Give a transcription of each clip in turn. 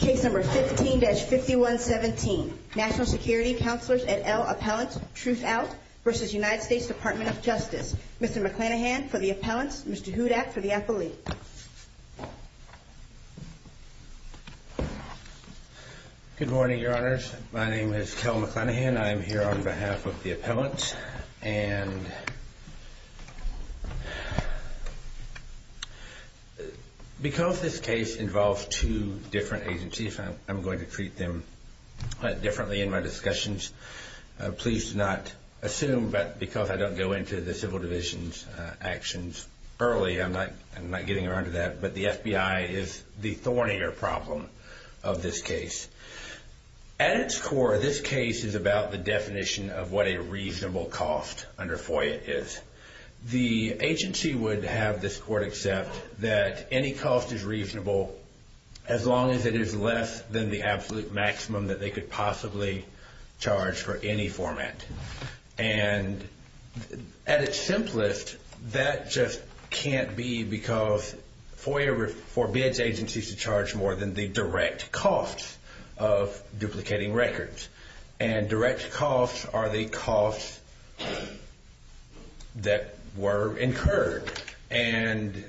Case number 15-5117, National Security Counselors et al. Appellants, Truthout v. United States Department of Justice. Mr. McClanahan for the appellants, Mr. Hudak for the appellee. Good morning, Your Honors. My name is Kel McClanahan. I'm here on behalf of the appellants. And Because this case involves two different agencies, I'm going to treat them differently in my discussions. Please do not assume that because I don't go into the Civil Division's actions early, I'm not getting around to that, but the FBI is the thornier problem of this case. At its core, this case is about the definition of what a reasonable cost under FOIA is. The agency would have this court accept that any cost is reasonable as long as it is less than the absolute maximum that they could possibly charge for any format. And at its simplest, that just can't be because FOIA forbids agencies to charge more than the direct costs of duplicating records. And direct costs are the costs that were incurred. And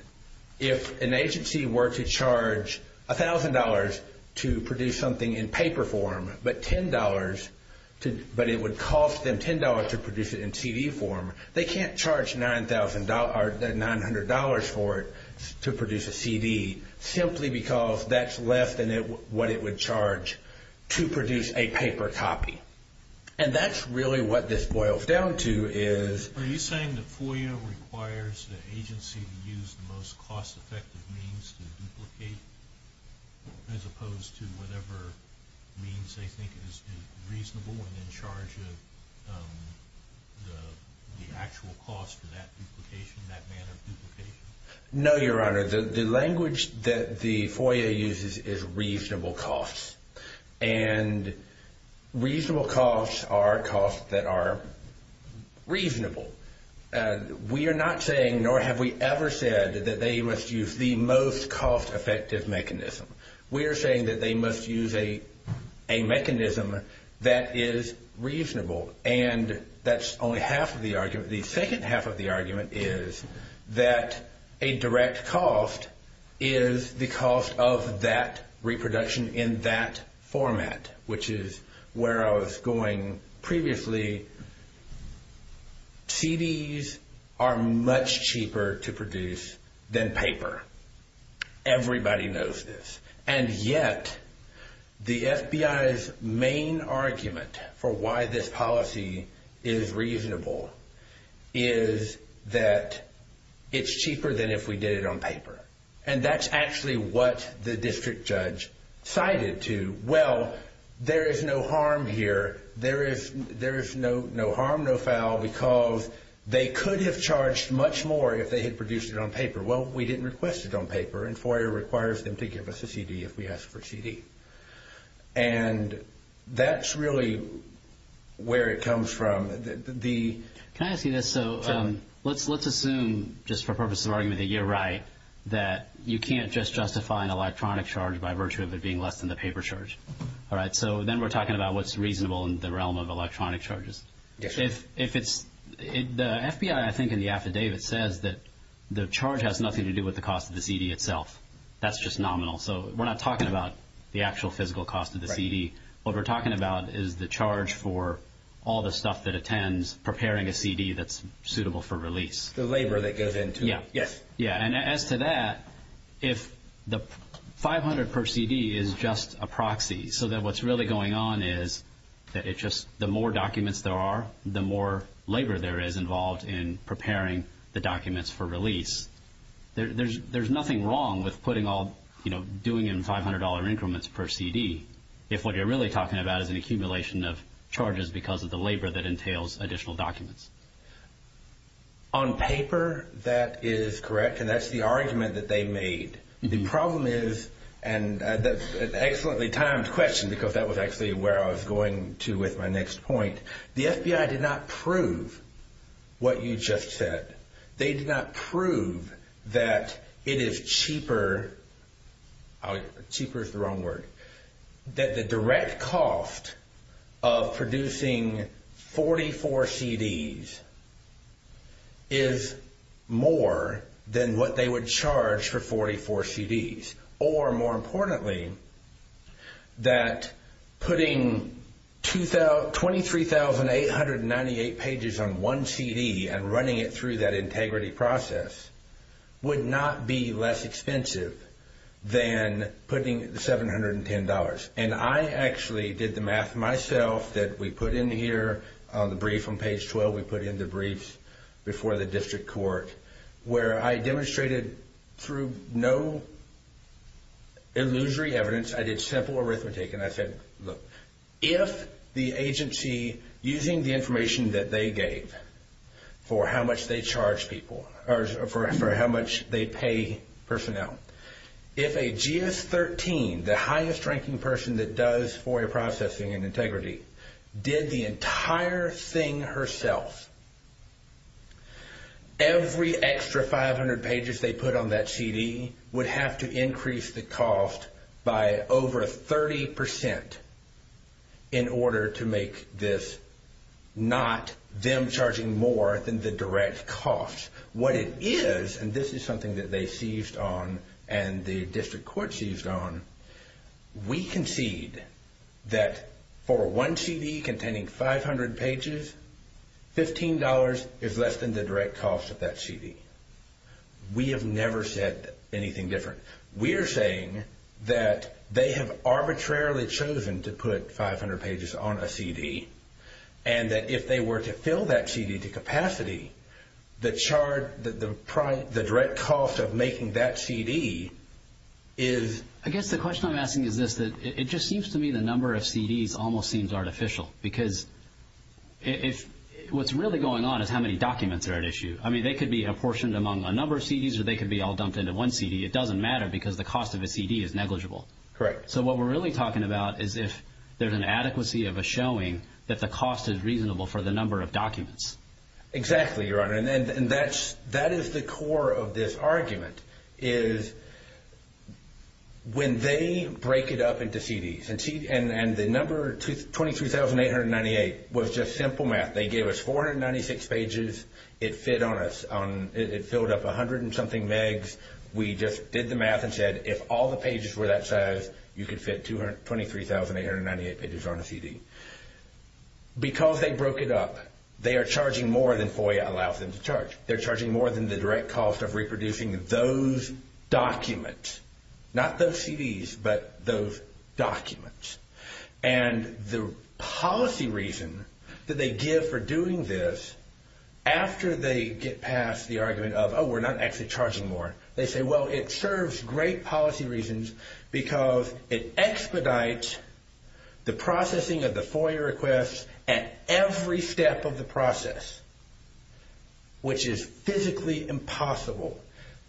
if an agency were to charge $1,000 to produce something in paper form, but it would cost them $10 to produce it in CD form, they can't charge $900 for it to produce a CD simply because that's less than what it would charge to produce a paper copy. And that's really what this boils down to is... Are you saying that FOIA requires the agency to use the most cost-effective means to duplicate as opposed to whatever means they think is reasonable and in charge of the actual cost of that duplication, that manner of duplication? No, Your Honor. The language that the FOIA uses is reasonable costs. And reasonable costs are costs that are reasonable. We are not saying nor have we ever said that they must use the most cost-effective mechanism. We are saying that they must use a mechanism that is reasonable. And that's only half of the argument. The second half of the argument is that a direct cost is the cost of that reproduction in that format, which is where I was going previously. CDs are much cheaper to produce than paper. Everybody knows this. And yet, the FBI's main argument for why this policy is reasonable is that it's cheaper than if we did it on paper. And that's actually what the district judge cited to, well, there is no harm here. There is no harm, no foul, because they could have charged much more if they had produced it on paper. Well, we didn't request it on paper, and FOIA requires them to give us a CD if we ask for a CD. And that's really where it comes from. Can I ask you this? Let's assume, just for purposes of argument, that you're right, that you can't just justify an electronic charge by virtue of it being less than the paper charge. So then we're talking about what's reasonable in the realm of electronic charges. The FBI, I think in the affidavit, says that the charge has nothing to do with the cost of the CD itself. That's just nominal. So we're not talking about the actual physical cost of the CD. What we're talking about is the charge for all the stuff that attends preparing a CD that's suitable for release. The labor that goes into it. Yeah. Yes. Yeah, and as to that, if the $500 per CD is just a proxy, so that what's really going on is that it's just the more documents there are, the more labor there is involved in preparing the documents for release. There's nothing wrong with doing it in $500 increments per CD if what you're really talking about is an accumulation of charges because of the labor that entails additional documents. On paper, that is correct, and that's the argument that they made. The problem is, and that's an excellently timed question because that was actually where I was going to with my next point, the FBI did not prove what you just said. They did not prove that it is cheaper, cheaper is the wrong word, that the direct cost of producing 44 CDs is more than what they would charge for 44 CDs. Or, more importantly, that putting 23,898 pages on one CD and running it through that integrity process would not be less expensive than putting $710. I actually did the math myself that we put in here on the brief on page 12. We put in the briefs before the district court where I demonstrated through no illusory evidence. I did simple arithmetic and I said, look, if the agency, using the information that they gave for how much they charge people or for how much they pay personnel, if a GS-13, the highest ranking person that does FOIA processing and integrity, did the entire thing herself, every extra 500 pages they put on that CD would have to increase the cost by over 30% in order to make this not them charging more than the direct cost. What it is, and this is something that they seized on and the district court seized on, we concede that for one CD containing 500 pages, $15 is less than the direct cost of that CD. We have never said anything different. We're saying that they have arbitrarily chosen to put 500 pages on a CD and that if they were to fill that CD to capacity, the direct cost of making that CD is... I guess the question I'm asking is this. It just seems to me the number of CDs almost seems artificial because what's really going on is how many documents are at issue. I mean, they could be apportioned among a number of CDs or they could be all dumped into one CD. It doesn't matter because the cost of a CD is negligible. Correct. So what we're really talking about is if there's an adequacy of a showing that the cost is reasonable for the number of documents. Exactly, Your Honor, and that is the core of this argument is when they break it up into CDs and the number 23,898 was just simple math. They gave us 496 pages. It filled up 100 and something megs. We just did the math and said if all the pages were that size, you could fit 23,898 pages on a CD. Because they broke it up, they are charging more than FOIA allows them to charge. They're charging more than the direct cost of reproducing those documents, not those CDs, but those documents. And the policy reason that they give for doing this after they get past the argument of, oh, we're not actually charging more, they say, well, it serves great policy reasons because it expedites the processing of the FOIA requests at every step of the process, which is physically impossible.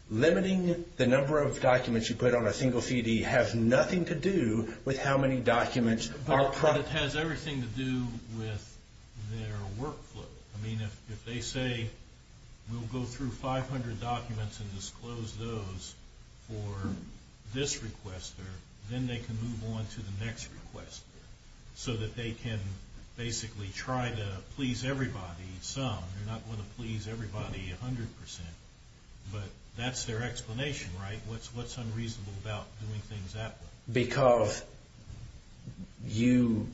Limiting the number of documents you put on a single CD has nothing to do with how many documents are processed. But it has everything to do with their workflow. I mean, if they say we'll go through 500 documents and disclose those for this requester, then they can move on to the next requester so that they can basically try to please everybody some. They're not going to please everybody 100%, but that's their explanation, right? What's unreasonable about doing things that way? Because you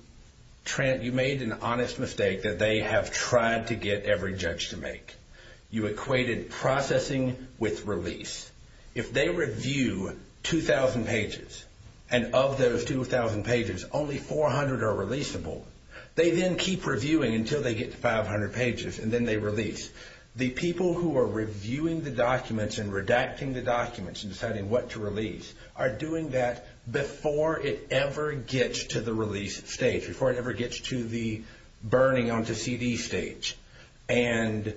made an honest mistake that they have tried to get every judge to make. You equated processing with release. If they review 2,000 pages and of those 2,000 pages, only 400 are releasable, they then keep reviewing until they get to 500 pages, and then they release. The people who are reviewing the documents and redacting the documents and deciding what to release are doing that before it ever gets to the release stage, before it ever gets to the burning onto CD stage. And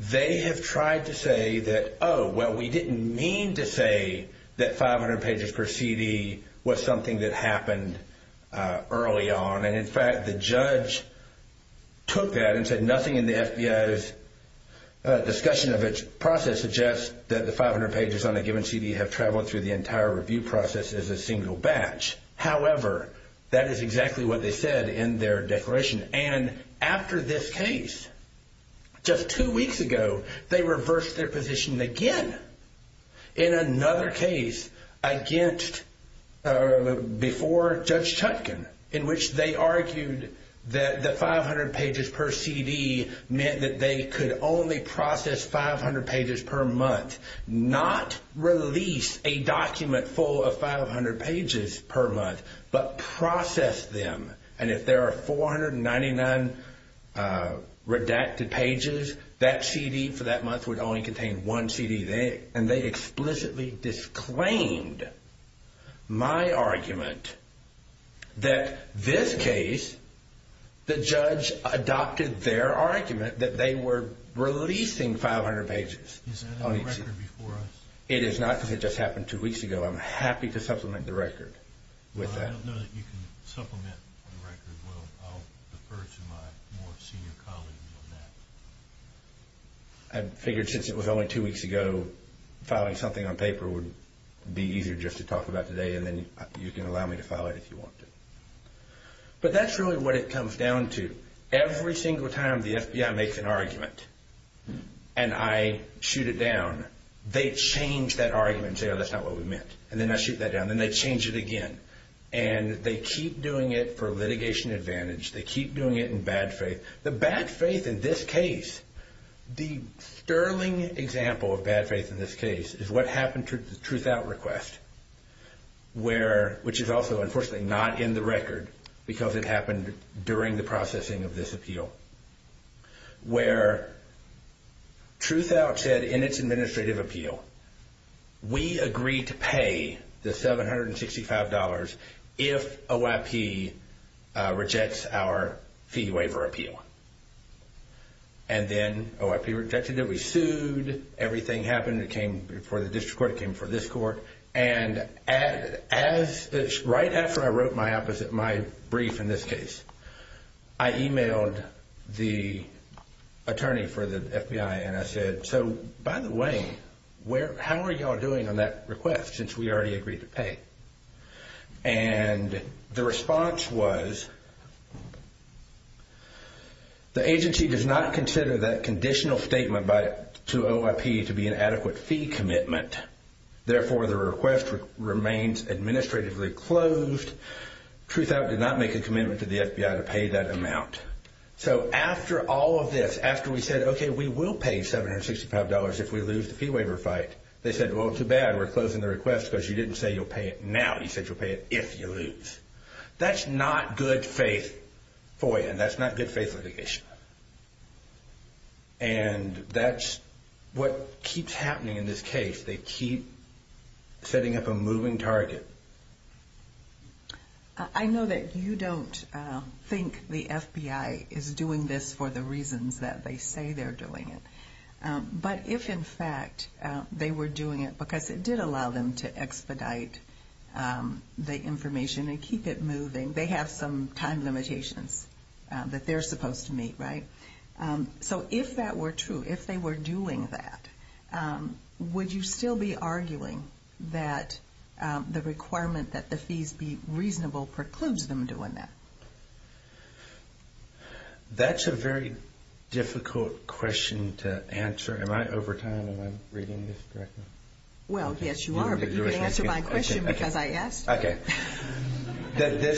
they have tried to say that, oh, well, we didn't mean to say that 500 pages per CD was something that happened early on. And, in fact, the judge took that and said nothing in the FBI's discussion of its process suggests that the 500 pages on a given CD have traveled through the entire review process as a single batch. However, that is exactly what they said in their declaration. And after this case, just two weeks ago, they reversed their position again in another case against before Judge Chutkan, in which they argued that the 500 pages per CD meant that they could only process 500 pages per month, not release a document full of 500 pages per month, but process them. And if there are 499 redacted pages, that CD for that month would only contain one CD. And they explicitly disclaimed my argument that this case, the judge adopted their argument that they were releasing 500 pages. Is that a record before us? It is not because it just happened two weeks ago. I'm happy to supplement the record with that. Well, I don't know that you can supplement the record. Well, I'll defer to my more senior colleagues on that. I figured since it was only two weeks ago, filing something on paper would be easier just to talk about today. And then you can allow me to file it if you want to. But that's really what it comes down to. Every single time the FBI makes an argument and I shoot it down, they change that argument and say, oh, that's not what we meant. And then I shoot that down. Then they change it again. And they keep doing it for litigation advantage. They keep doing it in bad faith. The bad faith in this case, the sterling example of bad faith in this case is what happened to the Truthout request, which is also unfortunately not in the record because it happened during the processing of this appeal, where Truthout said in its administrative appeal, we agree to pay the $765 if OIP rejects our fee waiver appeal. And then OIP rejected it. We sued. Everything happened. It came before the district court. It came before this court. And right after I wrote my brief in this case, I emailed the attorney for the FBI. And I said, so by the way, how are you all doing on that request since we already agreed to pay? And the response was, the agency does not consider that conditional statement to OIP to be an adequate fee commitment. Therefore, the request remains administratively closed. Truthout did not make a commitment to the FBI to pay that amount. So after all of this, after we said, okay, we will pay $765 if we lose the fee waiver fight, they said, well, too bad. We're closing the request because you didn't say you'll pay it now. You said you'll pay it if you lose. That's not good faith FOIA. And that's not good faith litigation. And that's what keeps happening in this case. They keep setting up a moving target. I know that you don't think the FBI is doing this for the reasons that they say they're doing it. But if, in fact, they were doing it because it did allow them to expedite the information and keep it moving, they have some time limitations that they're supposed to meet, right? So if that were true, if they were doing that, would you still be arguing that the requirement that the fees be reasonable precludes them doing that? That's a very difficult question to answer. Am I over time? Am I reading this correctly? Well, yes, you are. But you can answer my question because I asked. Okay. The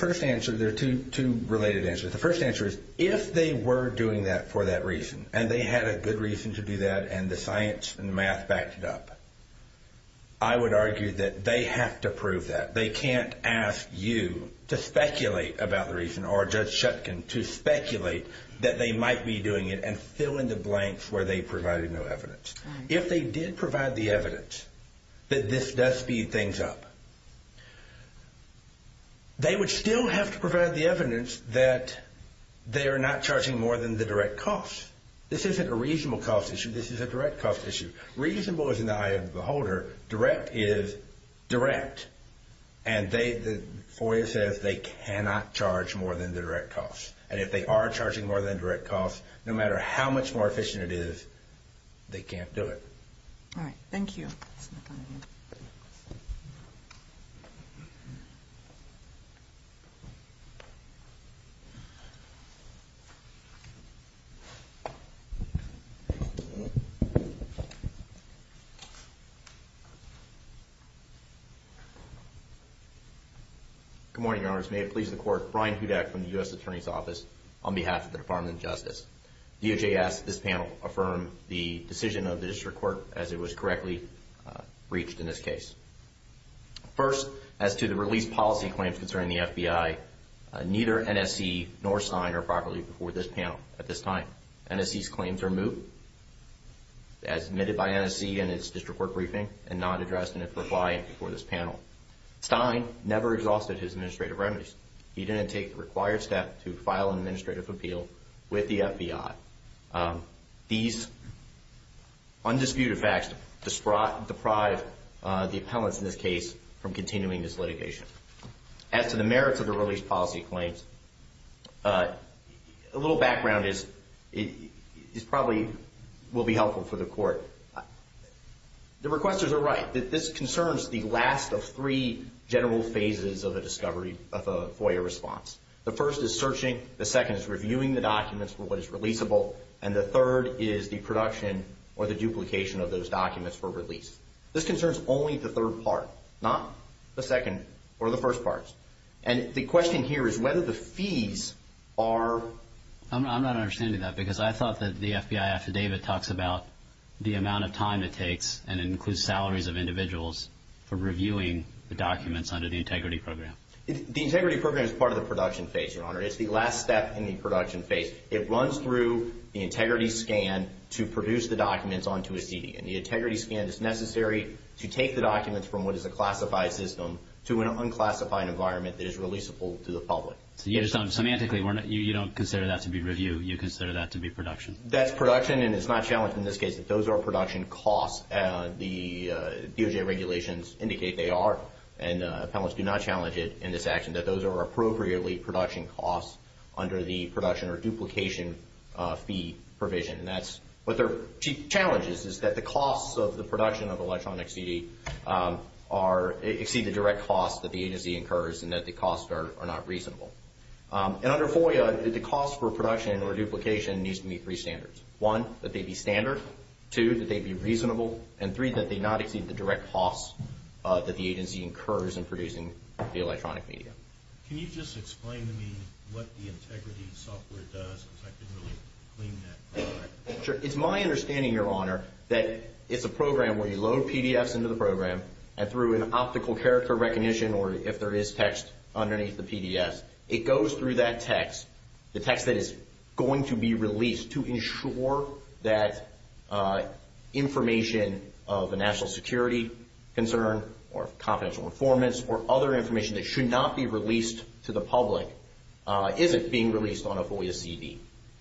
first answer, there are two related answers. The first answer is if they were doing that for that reason, and they had a good reason to do that and the science and math backed it up, I would argue that they have to prove that. They can't ask you to speculate about the reason or Judge Shetkin to speculate that they might be doing it and fill in the blanks where they provided no evidence. If they did provide the evidence that this does speed things up, they would still have to provide the evidence that they are not charging more than the direct cost. This isn't a reasonable cost issue. This is a direct cost issue. Reasonable is in the eye of the beholder. Direct is direct. And the FOIA says they cannot charge more than the direct cost. And if they are charging more than the direct cost, no matter how much more efficient it is, they can't do it. All right. Thank you. Good morning, Your Honors. May it please the Court, Brian Hudak from the U.S. Attorney's Office on behalf of the Department of Justice. DOJ asks that this panel affirm the decision of the district court as it was correctly reached in this case. First, as to the release policy claims concerning the FBI, neither NSC nor Stein are properly before this panel at this time. NSC's claims are moot as admitted by NSC in its district court briefing and not addressed in its reply before this panel. Stein never exhausted his administrative remedies. He didn't take the required step to file an administrative appeal with the FBI. These undisputed facts deprive the appellants in this case from continuing this litigation. As to the merits of the release policy claims, a little background is probably will be helpful for the court. The requesters are right. This concerns the last of three general phases of a discovery of a FOIA response. The first is searching. The second is reviewing the documents for what is releasable. And the third is the production or the duplication of those documents for release. This concerns only the third part, not the second or the first part. And the question here is whether the fees are… I'm not understanding that because I thought that the FBI affidavit talks about the amount of time it takes and includes salaries of individuals for reviewing the documents under the integrity program. The integrity program is part of the production phase, Your Honor. It's the last step in the production phase. It runs through the integrity scan to produce the documents onto a CD. And the integrity scan is necessary to take the documents from what is a classified system to an unclassified environment that is releasable to the public. So semantically, you don't consider that to be review. You consider that to be production. That's production, and it's not challenged in this case that those are production costs. The DOJ regulations indicate they are. And appellants do not challenge it in this action that those are appropriately production costs under the production or duplication fee provision. What their challenge is is that the costs of the production of electronic CD exceed the direct costs that the agency incurs and that the costs are not reasonable. And under FOIA, the cost for production or duplication needs to meet three standards. One, that they be standard. Two, that they be reasonable. And three, that they not exceed the direct costs that the agency incurs in producing the electronic media. Can you just explain to me what the integrity software does? Because I didn't really clean that up. Sure. It's my understanding, Your Honor, that it's a program where you load PDFs into the program and through an optical character recognition, or if there is text underneath the PDFs, it goes through that text, the text that is going to be released, to ensure that information of a national security concern or confidential informants or other information that should not be released to the public isn't being released on a FOIA CD.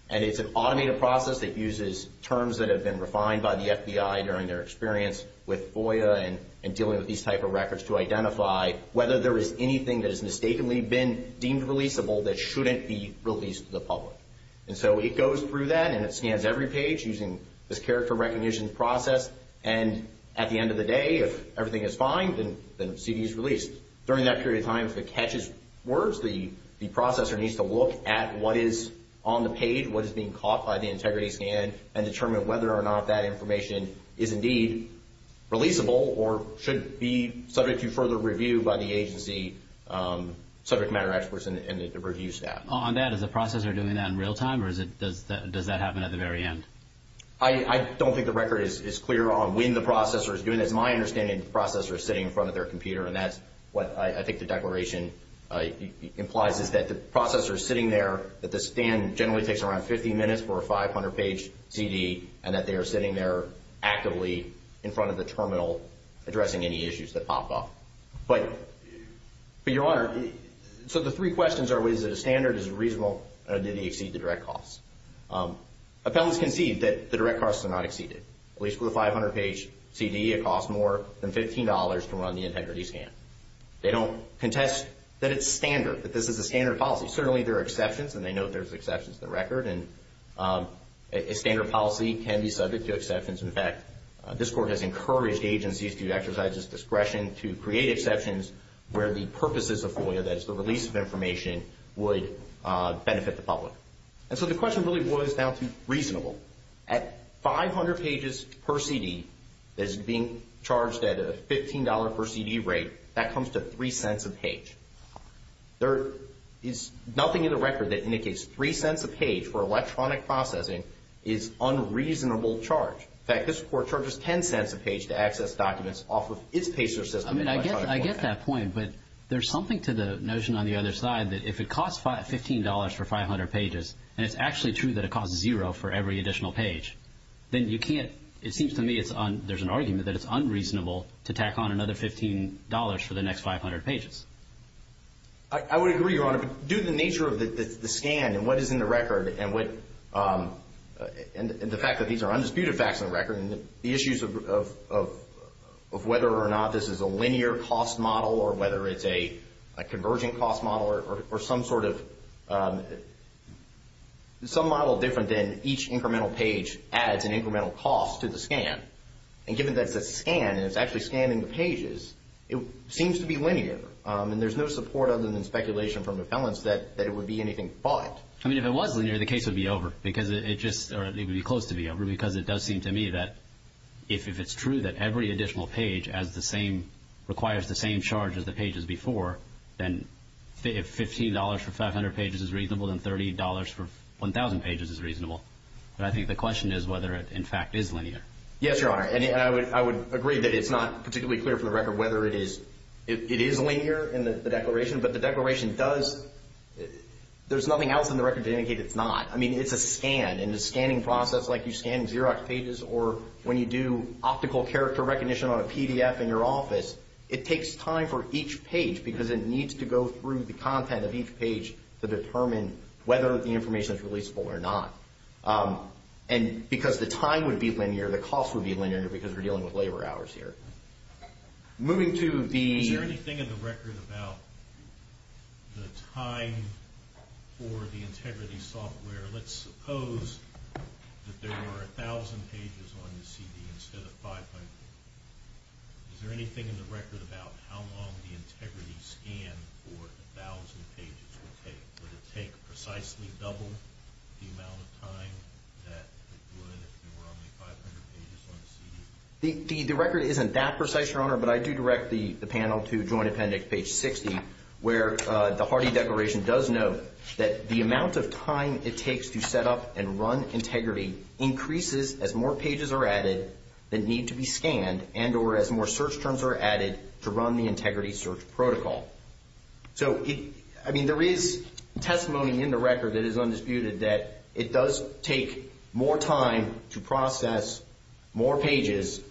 And it's an automated process that uses terms that have been refined by the FBI during their experience with FOIA and dealing with these type of records to identify whether there is anything that has mistakenly been deemed releasable that shouldn't be released to the public. And so it goes through that and it scans every page using this character recognition process. And at the end of the day, if everything is fine, then the CD is released. During that period of time, if it catches words, the processor needs to look at what is on the page, what is being caught by the integrity scan, and determine whether or not that information is indeed releasable or should be subject to further review by the agency subject matter experts and the review staff. On that, is the processor doing that in real time, or does that happen at the very end? I don't think the record is clear on when the processor is doing it. It's my understanding the processor is sitting in front of their computer, and that's what I think the declaration implies is that the processor is sitting there, that the scan generally takes around 50 minutes for a 500-page CD, and that they are sitting there actively in front of the terminal addressing any issues that pop up. But, Your Honor, so the three questions are, is it a standard, is it reasonable, and did it exceed the direct costs? Appellants concede that the direct costs are not exceeded. At least with a 500-page CD, it costs more than $15 to run the integrity scan. They don't contest that it's standard, that this is a standard policy. Certainly, there are exceptions, and they note there's exceptions in the record, and a standard policy can be subject to exceptions. In fact, this Court has encouraged agencies to exercise this discretion to create exceptions where the purposes of FOIA, that is the release of information, would benefit the public. And so the question really was down to reasonable. At 500 pages per CD that is being charged at a $15 per CD rate, that comes to 3 cents a page. There is nothing in the record that indicates 3 cents a page for electronic processing is unreasonable charge. In fact, this Court charges 10 cents a page to access documents off of its pacer system. I mean, I get that point, but there's something to the notion on the other side that if it costs $15 for 500 pages, and it's actually true that it costs zero for every additional page, then you can't, it seems to me there's an argument that it's unreasonable to tack on another $15 for the next 500 pages. I would agree, Your Honor, but due to the nature of the scan and what is in the record, and the fact that these are undisputed facts in the record, and the issues of whether or not this is a linear cost model or whether it's a converging cost model or some sort of, some model different than each incremental page adds an incremental cost to the scan. And given that it's a scan and it's actually scanning the pages, it seems to be linear. And there's no support other than speculation from the felons that it would be anything but. I mean, if it was linear, the case would be over because it just, or it would be close to be over because it does seem to me that if it's true that every additional page has the same, requires the same charge as the pages before, then if $15 for 500 pages is reasonable, then $30 for 1,000 pages is reasonable. But I think the question is whether it, in fact, is linear. Yes, Your Honor, and I would agree that it's not particularly clear from the record whether it is linear in the declaration, but the declaration does, there's nothing else in the record to indicate it's not. I mean, it's a scan, and the scanning process like you scan Xerox pages or when you do optical character recognition on a PDF in your office, it takes time for each page because it needs to go through the content of each page to determine whether the information is releasable or not. And because the time would be linear, the cost would be linear because we're dealing with labor hours here. Moving to the... Is there anything in the record about the time for the integrity software? Let's suppose that there were 1,000 pages on the CD instead of 500. Is there anything in the record about how long the integrity scan for 1,000 pages would take? Would it take precisely double the amount of time that it would if there were only 500 pages on the CD? The record isn't that precise, Your Honor, but I do direct the panel to Joint Appendix page 60, where the Hardy Declaration does note that the amount of time it takes to set up and run integrity increases as more pages are added that need to be scanned and or as more search terms are added to run the integrity search protocol. So, I mean, there is testimony in the record that is undisputed that it does take more time to process more pages,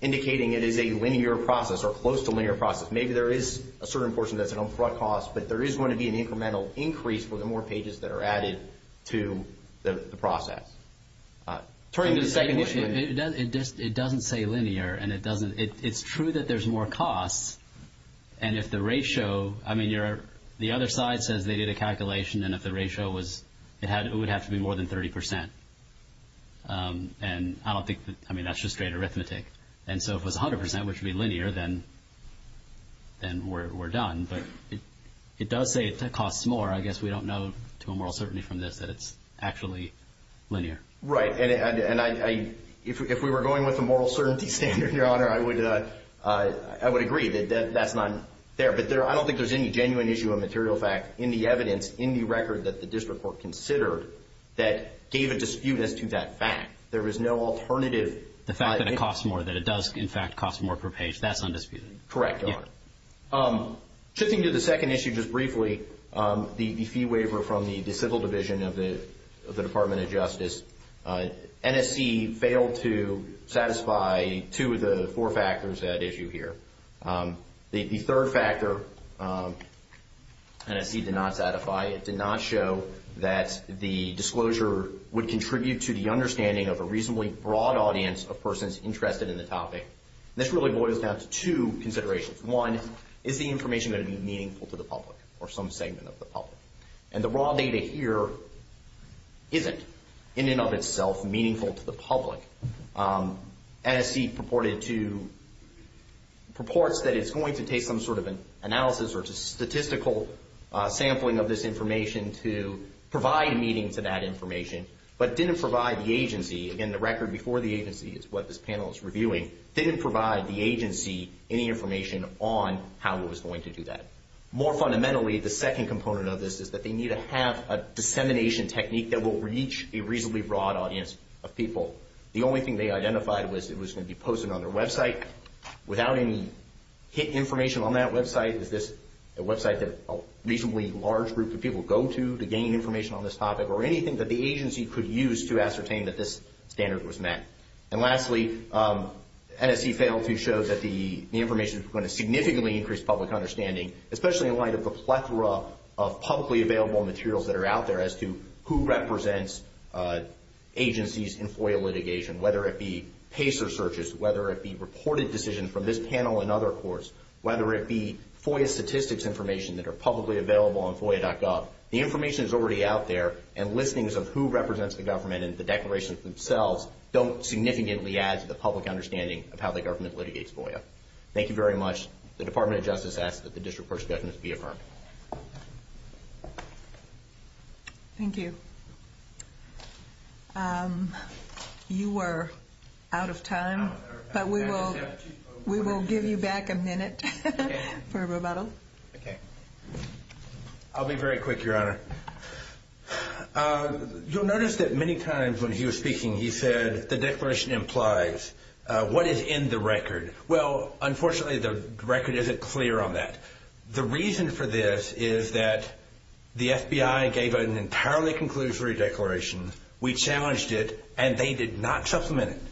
indicating it is a linear process or close to linear process. Maybe there is a certain portion that's an upfront cost, but there is going to be an incremental increase for the more pages that are added to the process. Turning to the second issue... It doesn't say linear, and it doesn't... It's true that there's more costs, and if the ratio... I mean, the other side says they did a calculation, and if the ratio was... It would have to be more than 30%. And I don't think that... I mean, that's just straight arithmetic. And so if it was 100%, which would be linear, then we're done. But it does say it costs more. I guess we don't know to a moral certainty from this that it's actually linear. Right. And if we were going with a moral certainty standard, Your Honor, I would agree that that's not there. But I don't think there's any genuine issue of material fact in the evidence, in the record that the district court considered, that gave a dispute as to that fact. There is no alternative. The fact that it costs more, that it does, in fact, cost more per page, that's undisputed. Correct, Your Honor. Shifting to the second issue just briefly, the fee waiver from the Civil Division of the Department of Justice, NSC failed to satisfy two of the four factors at issue here. The third factor NSC did not satisfy. It did not show that the disclosure would contribute to the understanding of a reasonably broad audience of persons interested in the topic. And this really boils down to two considerations. One, is the information going to be meaningful to the public or some segment of the public? And the raw data here isn't in and of itself meaningful to the public. NSC purports that it's going to take some sort of analysis or statistical sampling of this information to provide meaning to that information, but didn't provide the agency, again, the record before the agency is what this panel is reviewing, didn't provide the agency any information on how it was going to do that. More fundamentally, the second component of this is that they need to have a dissemination technique that will reach a reasonably broad audience of people. The only thing they identified was it was going to be posted on their website. Without any hidden information on that website, is this a website that a reasonably large group of people go to to gain information on this topic or anything that the agency could use to ascertain that this standard was met? And lastly, NSC failed to show that the information is going to significantly increase public understanding, especially in light of the plethora of publicly available materials that are out there as to who represents agencies in FOIA litigation, whether it be PACER searches, whether it be reported decisions from this panel and other courts, whether it be FOIA statistics information that are publicly available on FOIA.gov. The information is already out there, and listings of who represents the government and the declarations themselves don't significantly add to the public understanding of how the government litigates FOIA. Thank you very much. The Department of Justice asks that the district court's judgment be affirmed. Thank you. You were out of time, but we will give you back a minute for rebuttal. Okay. I'll be very quick, Your Honor. You'll notice that many times when he was speaking, he said the declaration implies what is in the record. Well, unfortunately, the record isn't clear on that. The reason for this is that the FBI gave an entirely conclusory declaration. We challenged it, and they did not supplement it.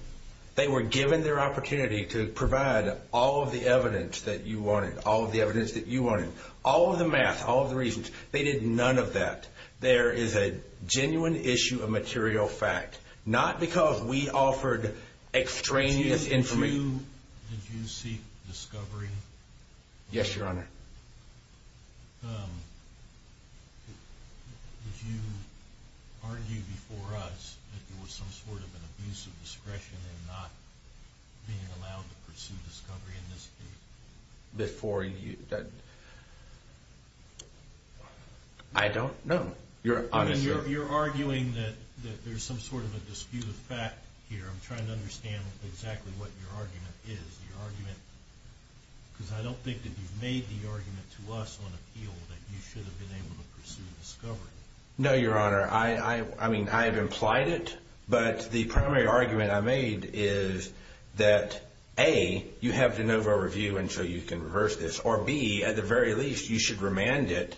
They were given their opportunity to provide all of the evidence that you wanted, all of the evidence that you wanted, all of the math, all of the reasons. They did none of that. There is a genuine issue of material fact, not because we offered extraneous information. Did you seek discovery? Yes, Your Honor. Did you argue before us that there was some sort of an abuse of discretion in not being allowed to pursue discovery in this case? Before you? I don't know. You're arguing that there's some sort of a disputed fact here. I'm trying to understand exactly what your argument is. Because I don't think that you've made the argument to us on appeal that you should have been able to pursue discovery. No, Your Honor. I have implied it, but the primary argument I made is that, A, you have de novo review, and so you can reverse this, or B, at the very least, you should remand it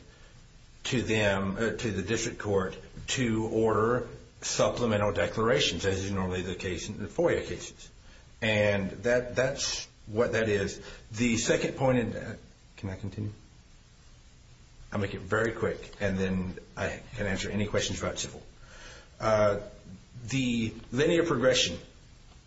to the district court to order supplemental declarations, as is normally the case in FOIA cases. And that's what that is. The second point, and can I continue? I'll make it very quick, and then I can answer any questions about civil. The linear progression,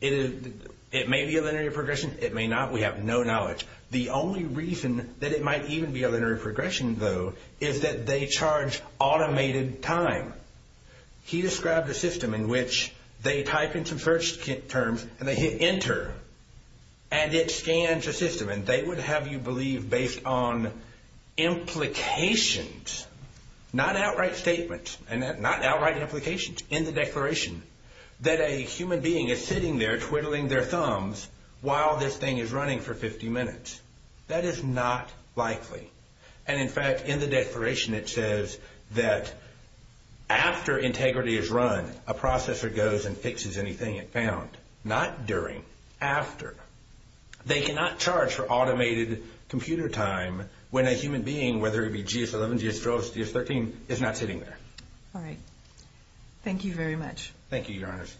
it may be a linear progression, it may not. We have no knowledge. The only reason that it might even be a linear progression, though, is that they charge automated time. He described a system in which they type in some search terms, and they hit enter, and it scans the system, and they would have you believe based on implications, not outright statements, and not outright implications in the declaration, that a human being is sitting there twiddling their thumbs while this thing is running for 50 minutes. That is not likely. And, in fact, in the declaration it says that after integrity is run, a processor goes and fixes anything it found, not during, after. They cannot charge for automated computer time when a human being, whether it be GS-11, GS-12, GS-13, is not sitting there. All right. Thank you very much. Thank you, Your Honors.